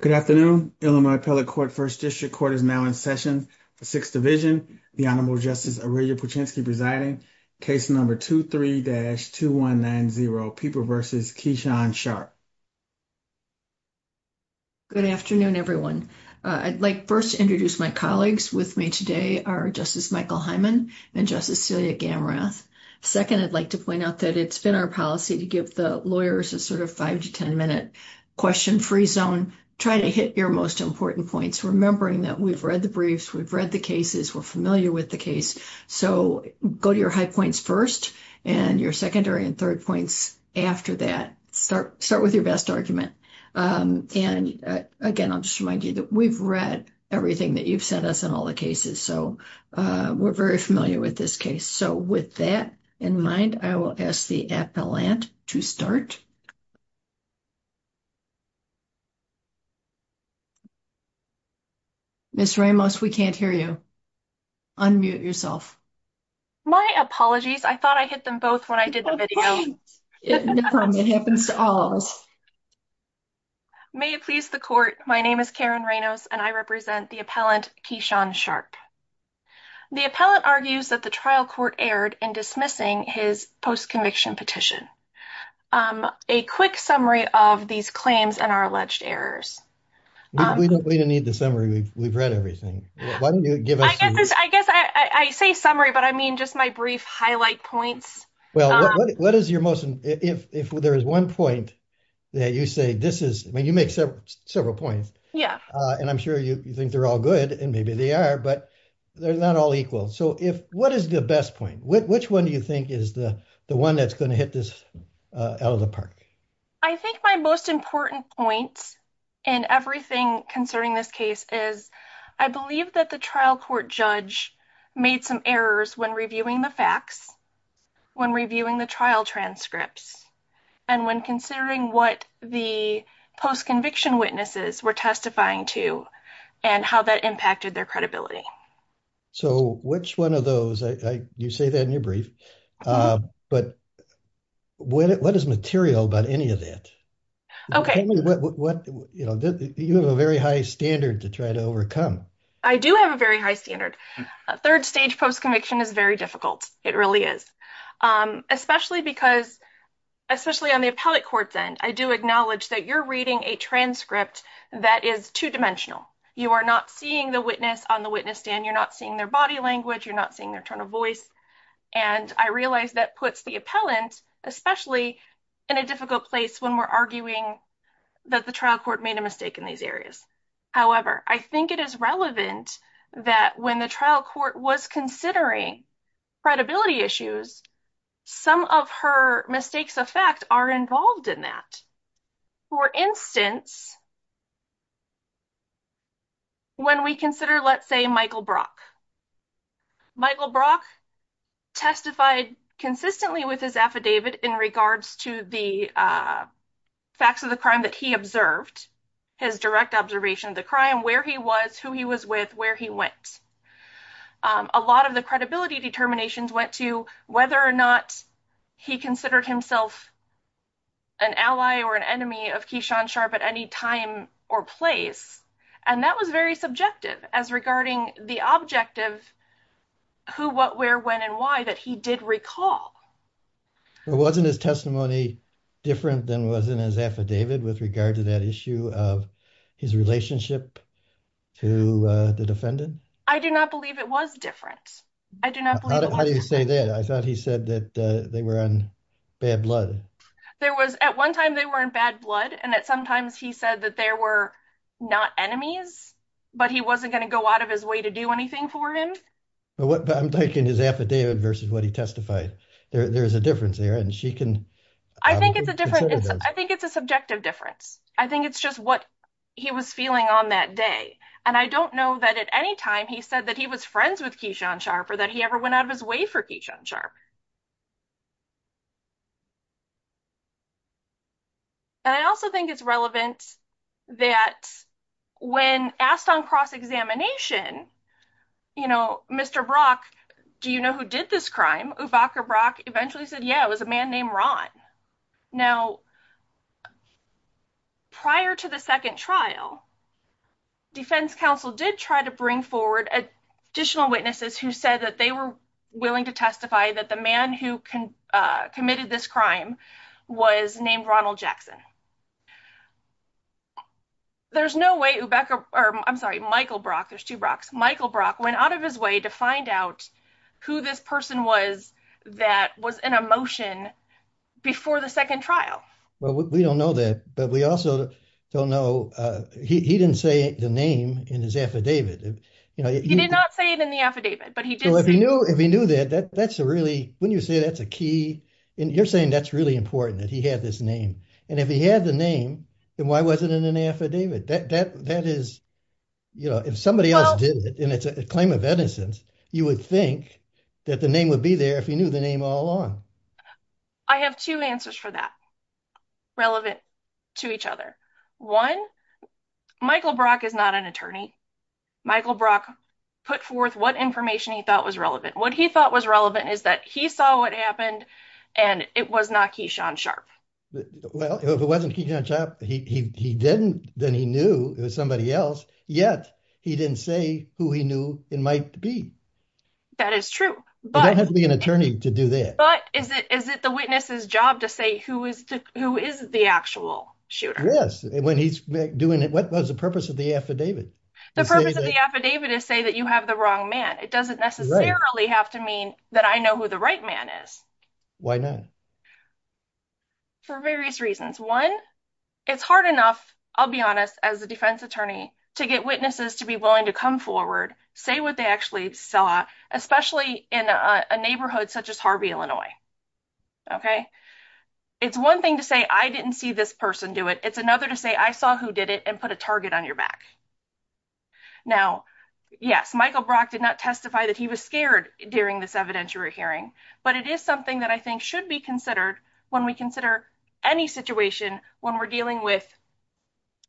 Good afternoon. Illinois Appellate Court First District Court is now in session for Sixth Division. The Honorable Justice Aurelia Puchinski presiding, case number 23-2190, Pieper v. Keishon Sharp. Good afternoon, everyone. I'd like first to introduce my colleagues with me today, our Justice Michael Hyman and Justice Celia Gamrath. Second, I'd like to point out that it's been our policy to give the lawyers a sort of 5-10 minute question-free zone. Try to hit your most important points, remembering that we've read the briefs, we've read the cases, we're familiar with the case. So go to your high points first and your secondary and third points after that. Start with your best argument. And again, I'll just remind you that we've read everything that you've sent us on all the cases. So we're very familiar with this case. So with that in mind, I will ask the appellant to start. Ms. Ramos, we can't hear you. Unmute yourself. My apologies. I thought I hit them both when I did the video. It happens to all of us. May it please the court. My name is Karen Ramos and I represent the appellant, Keyshawn Sharp. The appellant argues that the trial court erred in dismissing his post-conviction petition. A quick summary of these claims and our alleged errors. We don't need the summary. We've read everything. Why don't you give us... I guess I say summary, but I mean just my brief highlight points. Well, what is your most... If there is one point that you say this is... I mean, you make several points and I'm sure you think they're all good and maybe they are, but they're not all equal. So what is the best point? Which one do you think is the one that's going to hit this out of the park? I think my most important point in everything concerning this case is I believe that the trial court judge made some errors when reviewing the facts, when reviewing the trial transcripts, and when considering what the post-conviction witnesses were testifying to and how that impacted their credibility. So which one of those... You say that in your brief, but what is material about any of that? You have a very high standard to try to overcome. I do have a very high standard. A third stage post-conviction is very difficult. It really is, especially because, especially on the appellate court's end, I do acknowledge that you're reading a transcript that is two-dimensional. You are not seeing the witness on the witness stand, you're not seeing their body language, you're not seeing their tone of voice, and I realize that puts the appellant, especially in a difficult place when we're arguing that the trial court made a mistake in these areas. However, I think it is relevant that when the trial court was considering credibility issues, some of her mistakes of fact are involved in that. For instance, when we consider, let's say, Michael Brock. Michael Brock testified consistently with his affidavit in regards to the facts of the crime that he observed, his direct observation of the crime, where he was, who he was with, where he went. A lot of the credibility determinations went to whether or not he considered himself an ally or an enemy of Keishon Sharp at any time or place, and that was very subjective as regarding the objective, who, what, where, when, and why, that he did recall. It wasn't his testimony different than was in his affidavit with regard to that issue of his relationship to the defendant? I do not believe it was different. How do you say that? I thought he said that they were on bad blood. There was, at one time they were in bad blood, and that sometimes he said that there were not enemies, but he wasn't going to go out of his way to do anything for him. I'm taking his affidavit versus what he testified. There's a difference there, and she can... I think it's a different, I think it's a subjective difference. I think it's just what he was feeling on that day, and I don't know that at any time he said that he was friends with Keishon Sharp or that he ever went out of his way for Keishon Sharp. And I also think it's relevant that when asked on cross-examination, you know, Mr. Brock, do you know who did this crime? Uvaka Brock eventually said, yeah, it was a man named Ron. Now, prior to the second trial, defense counsel did try to bring forward additional witnesses who said that they were willing to testify that the man who committed this crime was named Ronald Jackson. There's no way Uvaka, or I'm sorry, Michael Brock, there's two Brock's, Michael went out of his way to find out who this person was that was in a motion before the second trial. Well, we don't know that, but we also don't know, he didn't say the name in his affidavit. He did not say it in the affidavit, but he did say it. If he knew that, that's a really, when you say that's a key, you're saying that's really important that he had this name. And if he had the name, then why was it in an affidavit? That is, you know, if somebody else did it, and it's a claim of innocence, you would think that the name would be there if he knew the name all along. I have two answers for that, relevant to each other. One, Michael Brock is not an attorney. Michael Brock put forth what information he thought was relevant. What he thought was relevant is that he saw what happened, and it was not Keyshawn Sharp. Well, if it wasn't Keyshawn Sharp, he didn't, then he knew it was somebody else, yet he didn't say who he knew it might be. That is true, but- You don't have to be an attorney to do that. But is it the witness's job to say who is the actual shooter? Yes, when he's doing it, what was the purpose of the affidavit? The purpose of the affidavit is to say that you have the wrong man. It doesn't necessarily have to mean that I know who the right man is. Why not? For various reasons. One, it's hard enough, I'll be honest, as a defense attorney to get witnesses to be willing to come forward, say what they actually saw, especially in a neighborhood such as Harvey, Illinois. Okay? It's one thing to say, I didn't see this person do it. It's another to say, I saw who did it and put a target on your back. Now, yes, Michael Brock did not testify that he was scared during this evidentiary hearing, but it is something that I think should be considered when we consider any situation when we're dealing with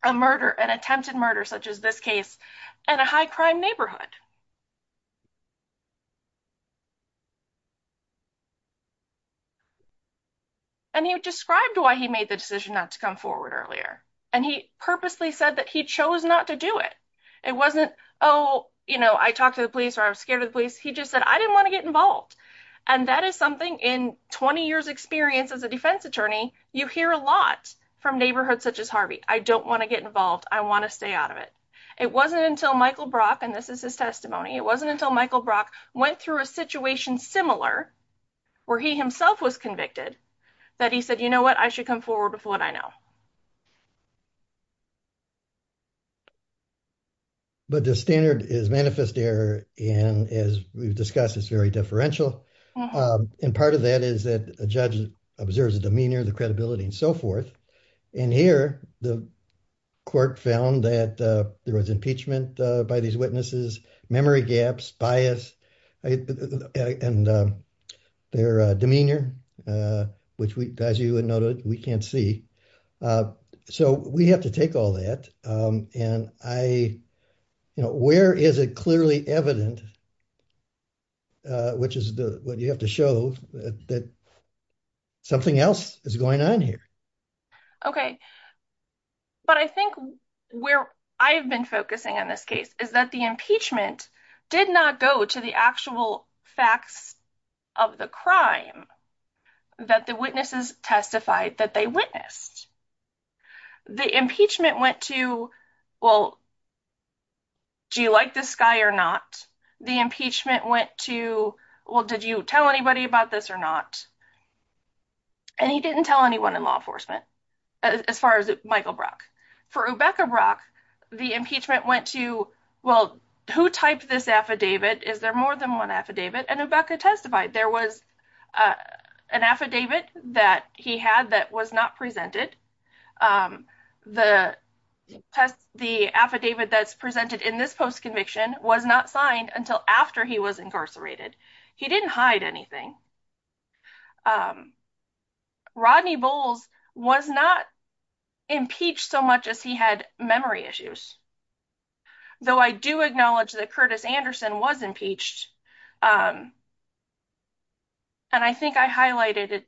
an attempted murder such as this case in a high crime neighborhood. And he described why he made the decision not to come forward earlier. And he purposely said that he chose not to do it. It wasn't, oh, I talked to the police or I was scared of the police. He just said, I didn't want to get involved. And that is in 20 years experience as a defense attorney, you hear a lot from neighborhoods such as Harvey. I don't want to get involved. I want to stay out of it. It wasn't until Michael Brock, and this is his testimony. It wasn't until Michael Brock went through a situation similar where he himself was convicted that he said, you know what? I should come forward with what I know. But the standard is manifest error. And as we've discussed, it's very differential. And part of that is that a judge observes the demeanor, the credibility and so forth. And here, the court found that there was impeachment by these witnesses, memory gaps, bias, and their demeanor, which we, as you would note, we can't see. So we have to take all that. And I, you know, where is it clearly evident, which is what you have to show that something else is going on here. Okay. But I think where I've been focusing on this case is that the impeachment did not go to actual facts of the crime that the witnesses testified that they witnessed. The impeachment went to, well, do you like this guy or not? The impeachment went to, well, did you tell anybody about this or not? And he didn't tell anyone in law enforcement, as far as Michael Brock. For Rebecca Brock, the impeachment went to, well, who typed this affidavit? Is there more than one affidavit? And Rebecca testified there was an affidavit that he had that was not presented. The affidavit that's presented in this post conviction was not signed until after he was incarcerated. He didn't hide anything. Rodney Bowles was not impeached so much as he had memory issues. Though I do acknowledge that Curtis Anderson was impeached. And I think I highlighted it.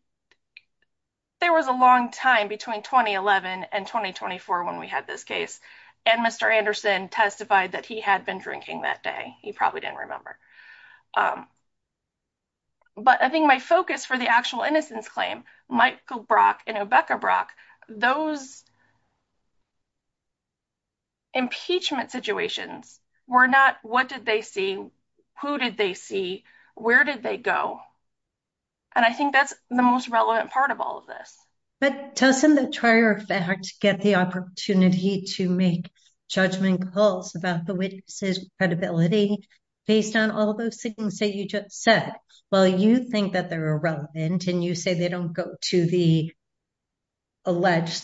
There was a long time between 2011 and 2024 when we had this case. And Mr. Anderson testified that he had been drinking that day. He probably didn't remember. But I think my focus for the actual innocence claim, Michael Brock and Rebecca Brock, those impeachment situations were not what did they see? Who did they see? Where did they go? And I think that's the most relevant part of all of this. But doesn't the trier effect get the opportunity to make judgment calls about the witnesses' credibility based on all those things that you just said? Well, you think that they're irrelevant and you say they don't go to the alleged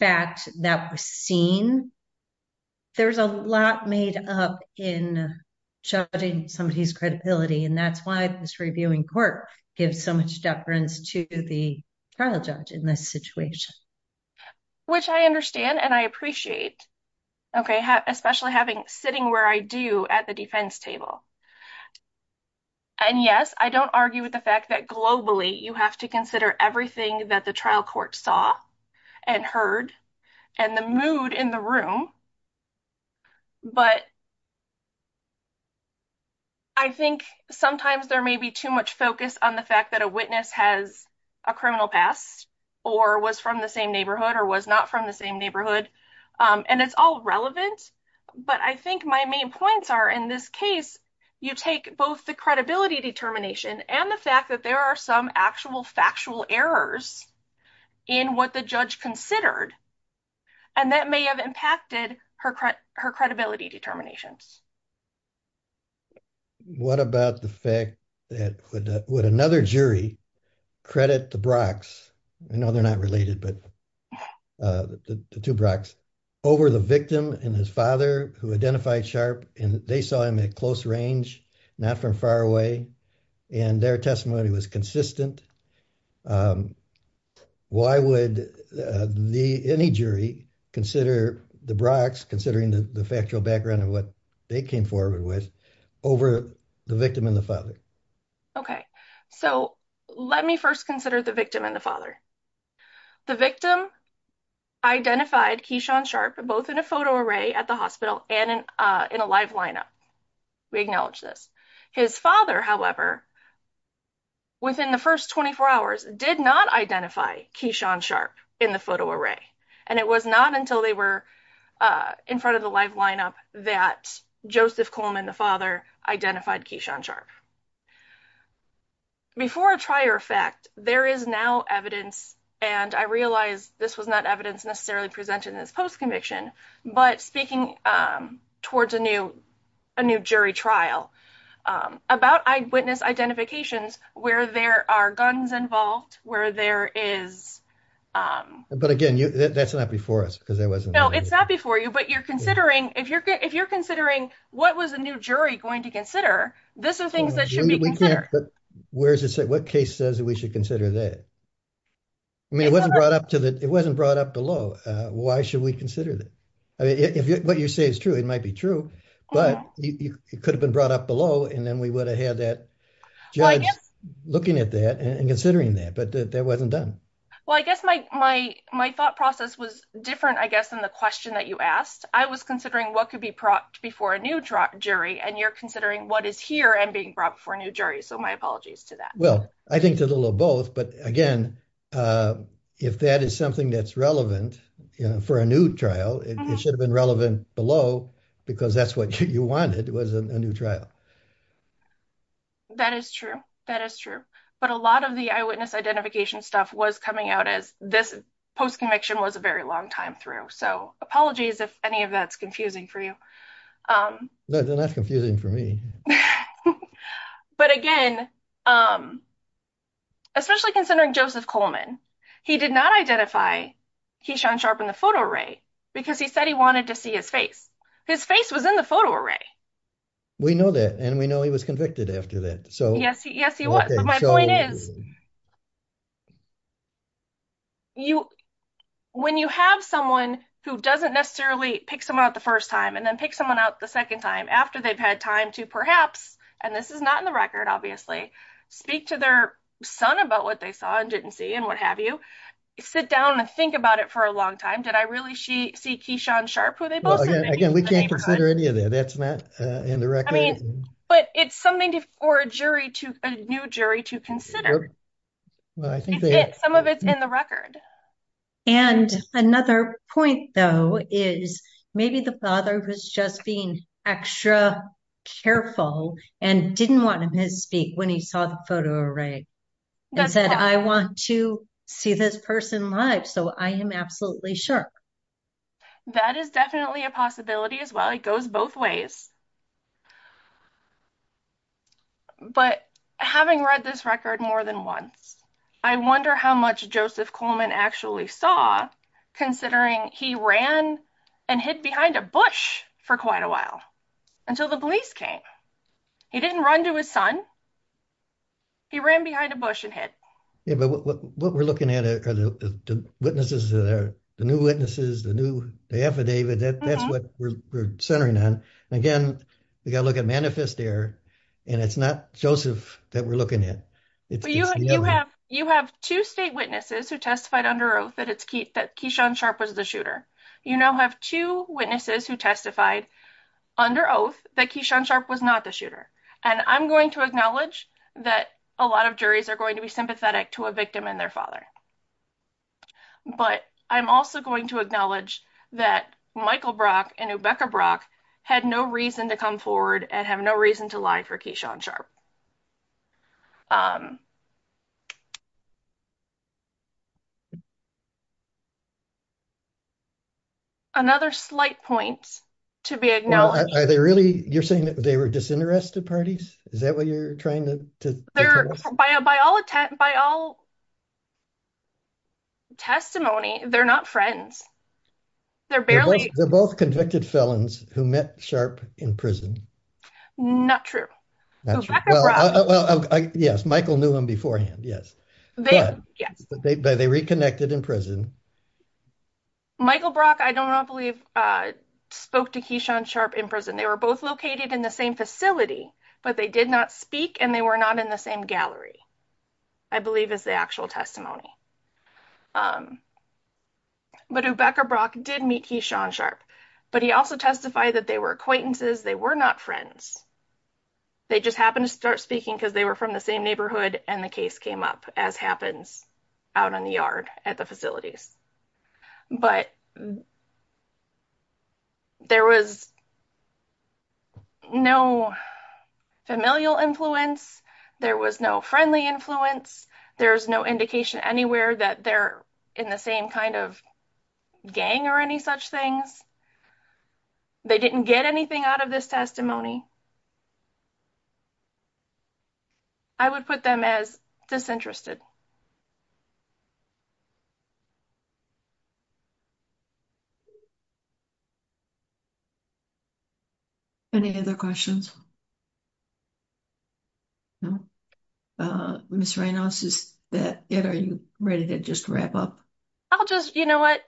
fact that was seen. There's a lot made up in judging somebody's credibility. And that's why this reviewing court gives so much deference to the trial judge in this situation. Which I understand and I appreciate. Okay, especially having sitting where I do at the defense table. And yes, I don't argue with the fact that globally you have to consider everything that the trial court saw and heard and the mood in the room. But I think sometimes there may be too much focus on the fact that a witness has a criminal past or was from the same neighborhood or was not from the same neighborhood. And it's all relevant. But I think my main points are in this case, you take both the credibility determination and the fact that there are some actual factual errors in what the judge considered. And that may have impacted her credibility determinations. What about the fact that would another jury credit the Brock's? I know they're not related, but the two Brock's over the victim and his father who identified Sharp and they saw him at close range, not from far away. And their testimony was consistent. Why would any jury consider the Brock's considering the factual background of what they came forward with over the victim and the father? The victim identified Keyshawn Sharp, both in a photo array at the hospital and in a live lineup. We acknowledge this. His father, however, within the first 24 hours did not identify Keyshawn Sharp in the photo array. And it was not until they were in front of the live lineup that Joseph Coleman, the father, identified Keyshawn Sharp. Before a trier fact, there is now and I realized this was not evidence necessarily presented in this post-conviction, but speaking towards a new jury trial about eyewitness identifications where there are guns involved, where there is. But again, that's not before us because there wasn't. No, it's not before you, but if you're considering what was the new jury going to consider, this are things that should be considered. But what case says that we should consider that? I mean, it wasn't brought up to that. It wasn't brought up below. Why should we consider that? I mean, if what you say is true, it might be true, but it could have been brought up below, and then we would have had that judge looking at that and considering that. But that wasn't done. Well, I guess my thought process was different, I guess, than the question that you asked. I was considering what could be brought before a new jury, and you're considering what is here and being brought before a new jury. So my apologies to that. Well, I think a little of both. But again, if that is something that's relevant for a new trial, it should have been relevant below because that's what you wanted was a new trial. That is true. That is true. But a lot of the eyewitness identification stuff was coming out as this post-conviction was a very long time through. So apologies if any of that's confusing for you. No, they're not confusing for me. But again, especially considering Joseph Coleman, he did not identify Keyshawn Sharp in the photo array because he said he wanted to see his face. His face was in the photo array. We know that, and we know he was convicted after that. Yes, he was. But my point is, when you have someone who doesn't necessarily pick someone out the first time and then pick out the second time after they've had time to perhaps, and this is not in the record, obviously, speak to their son about what they saw and didn't see and what have you, sit down and think about it for a long time. Did I really see Keyshawn Sharp who they both said they knew in the neighborhood? Again, we can't consider any of that. That's not in the record. But it's something for a new jury to consider. It's it. Some of it's in the record. And another point, though, is maybe the father was just being extra careful and didn't want him to speak when he saw the photo array. He said, I want to see this person live, so I am absolutely sure. That is definitely a possibility as well. It goes both ways. But having read this record more than once, I wonder how much Joseph Coleman actually saw, considering he ran and hid behind a bush for quite a while until the police came. He didn't run to his son. He ran behind a bush and hid. Yeah, but what we're looking at are the witnesses that are the new witnesses, the new the affidavit that that's what we're centering on. Again, we got to look at manifest there and it's not Joseph that we're looking at. You have two state witnesses who testified under oath that it's Keith that Keyshawn Sharp was the shooter. You now have two witnesses who testified under oath that Keyshawn Sharp was not the shooter. And I'm going to acknowledge that a lot of juries are going to be sympathetic to a victim and their to come forward and have no reason to lie for Keyshawn Sharp. Another slight point to be acknowledged. Are they really you're saying that they were disinterested parties? Is that what you're trying to tell us? By all testimony, they're not friends. They're both convicted felons who met Sharp in prison. Not true. Well, yes, Michael knew him beforehand. Yes. Yes, but they reconnected in prison. Michael Brock, I don't believe spoke to Keyshawn Sharp in prison. They were both located in the same facility, but they did not speak and they were not in the same gallery. I believe is the actual testimony. But Rebecca Brock did meet Keyshawn Sharp, but he also testified that they were acquaintances. They were not friends. They just happened to start speaking because they were from the same neighborhood and the case came up as happens out in the yard at the facilities. But there was no familial influence. There was no friendly influence. There's no indication anywhere that they're in the same kind of gang or any such things. They didn't get anything out of this testimony. I would put them as disinterested. Any other questions? No. Ms. Reynolds, are you ready to just wrap up? I'll just, you know what,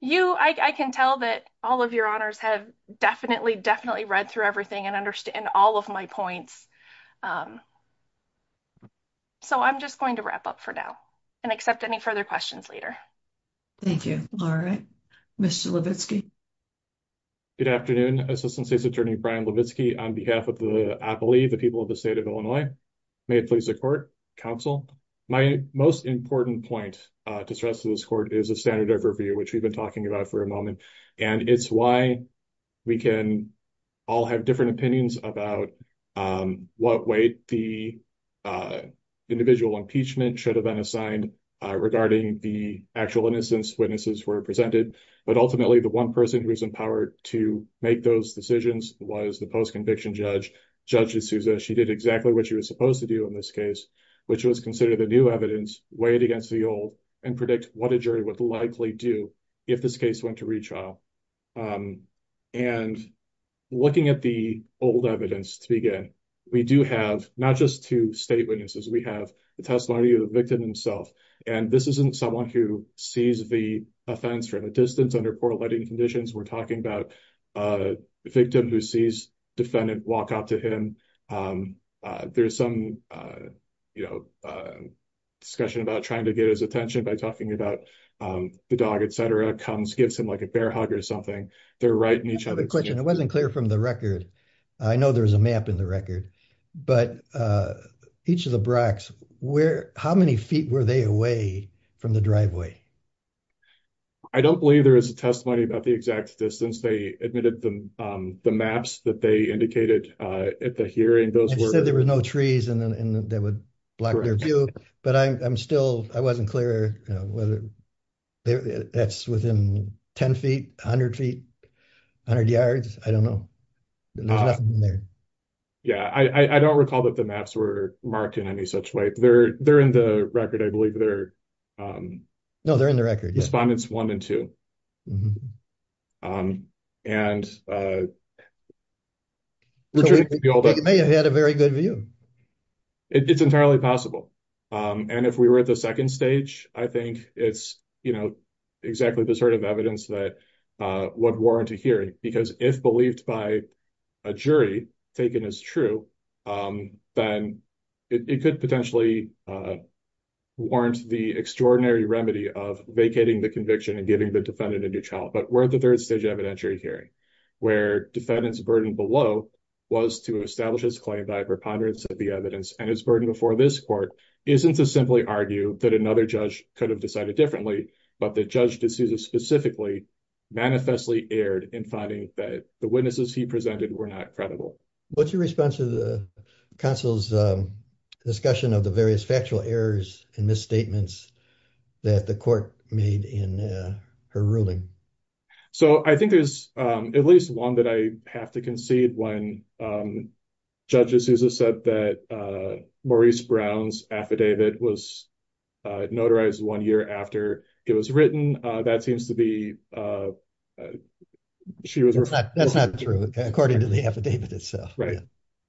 you, I can tell that all of your honors have definitely, definitely read through everything and understand all of my points. So I'm just going to wrap up for now and accept any further questions later. Thank you. All right, Mr. Levitsky. Good afternoon, Assistant State's Attorney Brian Levitsky on behalf of the, I believe the people of the state of Illinois. May it please the court, counsel. My most important point to stress to this court is a standard overview, which we've been talking about for a moment. And it's why we can all have different opinions about what weight the individual impeachment should have been assigned regarding the actual innocence witnesses were presented. But ultimately the one person who was empowered to make those decisions was the post-conviction judge, Judge D'Souza. She did exactly what she was supposed to do in this case, which was consider the new evidence, weighed against the old, and predict what a jury would likely do if this case went to retrial. And looking at the old evidence to begin, we do have not just two state witnesses. We have the testimony of the victim himself. And this isn't someone who sees the offense from a distance under poor lighting conditions. We're talking about a victim who sees defendant walk up to him. There's some discussion about trying to get his attention by talking about the dog, comes, gives him like a bear hug or something. They're right in each other's... I have a question. It wasn't clear from the record. I know there's a map in the record, but each of the Bracks, how many feet were they away from the driveway? I don't believe there is a testimony about the exact distance. They admitted the maps that they indicated at the hearing. Those were... They said there were no trees and that would block their view. But I'm still... I wasn't clear whether that's within 10 feet, 100 feet, 100 yards. I don't know. There's nothing there. Yeah. I don't recall that the maps were marked in any such way. They're in the record, I believe. No, they're in the record. Respondents one and two. Mm-hmm. And... They may have had a very good view. It's entirely possible. And if we were at the second stage, I think it's exactly the sort of evidence that would warrant a hearing. Because if believed by a jury, taken as true, then it could potentially warrant the extraordinary remedy of vacating the conviction and giving the defendant a new trial. But we're at the third stage evidentiary hearing, where defendant's burden below was to establish his claim by a preponderance of the evidence. And his burden before this court isn't to simply argue that another judge could have decided differently, but that Judge D'Souza specifically manifestly erred in finding that the witnesses he presented were not credible. What's your response to the counsel's discussion of the factual errors and misstatements that the court made in her ruling? So, I think there's at least one that I have to concede. When Judge D'Souza said that Maurice Brown's affidavit was notarized one year after it was written, that seems to be... That's not true, according to the affidavit itself. Right.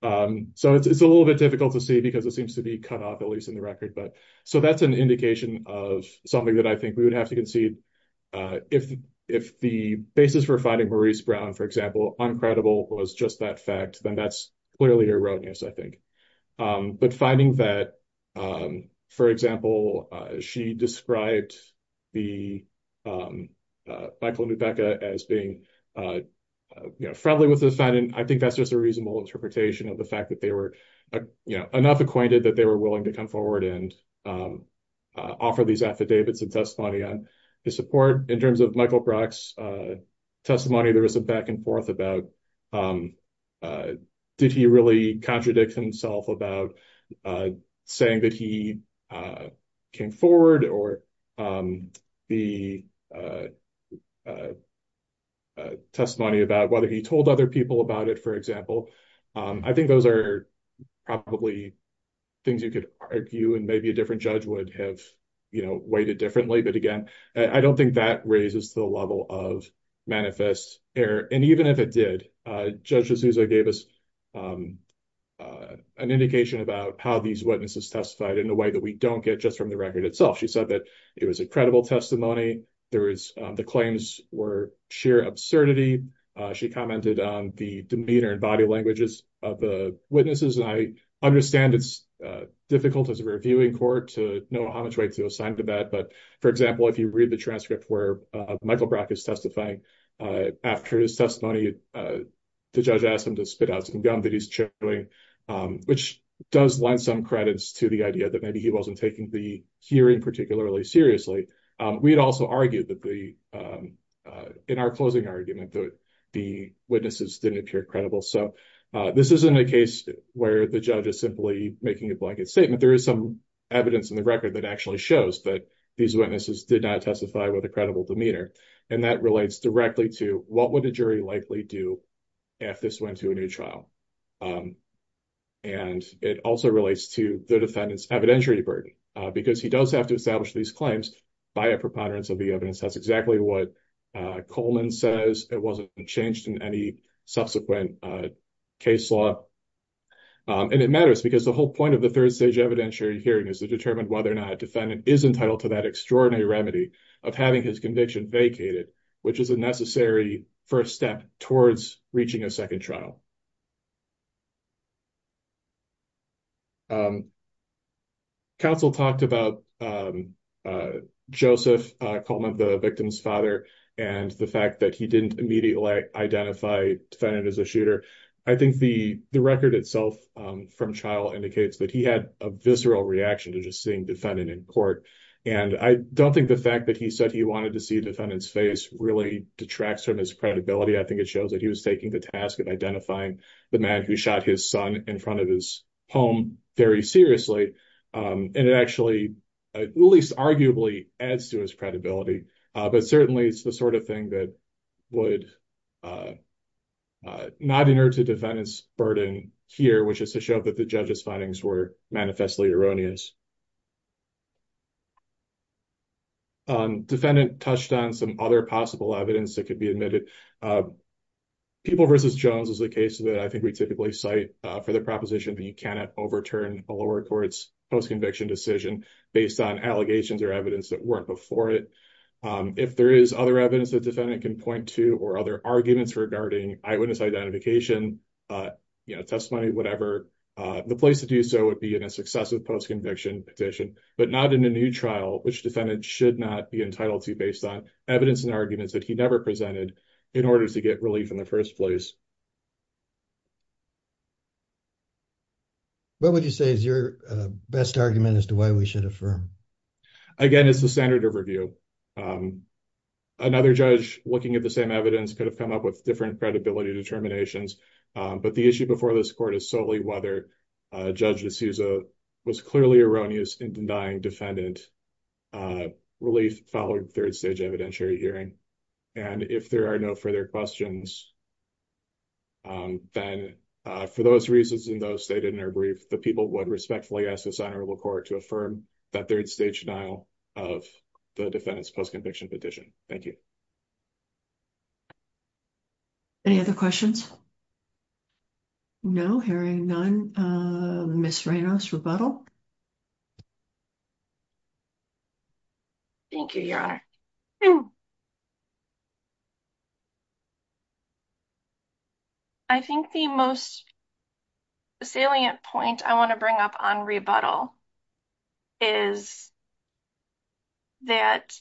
So, it's a little bit difficult to see because it seems to be cut off, at least in the record. So, that's an indication of something that I think we would have to concede. If the basis for finding Maurice Brown, for example, uncredible was just that fact, then that's clearly erroneous, I think. But finding that, for example, she described Michael Nubeka as being friendly with the defendant, I think that's a reasonable interpretation of the fact that they were, you know, enough acquainted that they were willing to come forward and offer these affidavits and testimony on his support. In terms of Michael Brock's testimony, there was a back and forth about did he really contradict himself about saying that he came forward or the testimony about whether he told other people about it, for example. I think those are probably things you could argue and maybe a different judge would have, you know, weighed it differently. But again, I don't think that raises the level of manifest error. And even if it did, Judge D'Souza gave us an indication about how these witnesses testified in a way that we don't get just from the record itself. She said that it was a credible testimony. The claims were sheer absurdity. She commented on the demeanor and body languages of the witnesses. And I understand it's difficult as a reviewing court to know how much weight to assign to that. But for example, if you read the transcript where Michael Brock is testifying after his testimony, the judge asked him to spit out some gum that he's chewing, which does lend some credits to the idea that maybe he wasn't taking the hearing particularly seriously. We had also argued in our closing argument that the witnesses didn't appear credible. So this isn't a case where the judge is simply making a blanket statement. There is some evidence in the record that actually shows that these witnesses did not testify with a credible demeanor. And that relates directly to what would a jury likely do if this went to a new trial? And it also relates to the defendant's evidentiary burden, because he does have to by a preponderance of the evidence. That's exactly what Coleman says. It wasn't changed in any subsequent case law. And it matters because the whole point of the third stage evidentiary hearing is to determine whether or not a defendant is entitled to that extraordinary remedy of having his conviction vacated, which is a necessary first step towards reaching a second trial. Counsel talked about Joseph Coleman, the victim's father, and the fact that he didn't immediately identify defendant as a shooter. I think the record itself from trial indicates that he had a visceral reaction to just seeing defendant in court. And I don't think the fact that he said he wanted to see defendant's face really detracts from his credibility. I think it shows that he was taking the task of identifying the man who shot his son in front of his home very seriously. And it actually, at least arguably, adds to his credibility. But certainly, it's the sort of thing that would not inert a defendant's burden here, which is to show that the judge's findings were manifestly erroneous. Defendant touched on some other possible evidence that could be admitted. People v. Jones is a case that I think we typically cite for the proposition that you cannot overturn a lower court's post-conviction decision based on allegations or evidence that weren't before it. If there is other evidence that defendant can point to or other arguments regarding eyewitness identification, testimony, whatever, the place to do so would be in a successive post-conviction petition, but not in a new trial, which defendant should not be entitled to based on evidence and arguments that he never presented in order to get relief in the first place. What would you say is your best argument as to why we should affirm? Again, it's the standard of review. Another judge looking at the same evidence could have come up with different credibility determinations, but the issue before this court is solely whether Judge D'Souza was clearly erroneous in denying defendant relief following third-stage evidentiary hearing. If there are no further questions, then for those reasons and those stated in her brief, the people would respectfully ask the Senate or the court to affirm that third-stage denial of the defendant's post-conviction petition. Thank you. Any other questions? No? Hearing none, Ms. Reynos, rebuttal? Thank you, Your Honor. I think the most salient point I want to bring up on rebuttal is that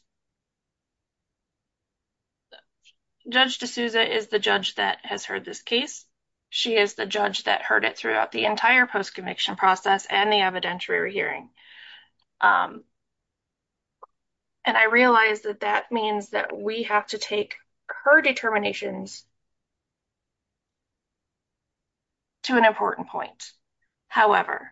Judge D'Souza is the judge that has heard this case. She is the judge that heard it throughout the entire post-conviction process and the evidentiary hearing. And I realize that that means that we have to take her determinations to an important point. However,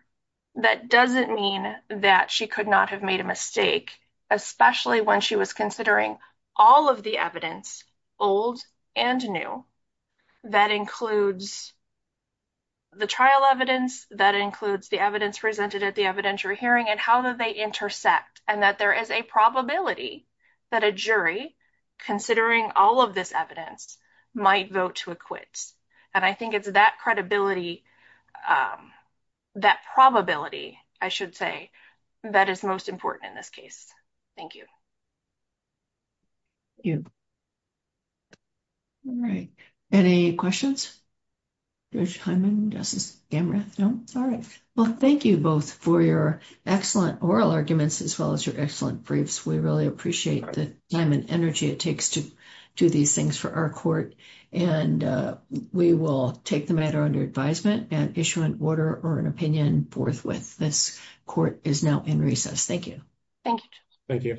that doesn't mean that she could not have made a mistake, especially when she was considering all of the evidence, old and new, that includes the trial evidence, that includes the evidence presented at the evidentiary hearing, and how do they intersect, and that there is a probability that a jury, considering all of this evidence, might vote to acquit. And I think it's that credibility, that probability, I should say, that is most important in this case. Thank you. Thank you. All right. Any questions? Judge Hyman, Justice Gamreth? No? Sorry. Well, thank you both for your excellent oral arguments as well as your excellent briefs. We really appreciate the time and energy it takes to do these things for our court. And we will take the matter under advisement and issue an order or an opinion forthwith. This court is now in recess. Thank you. Thank you. Thank you.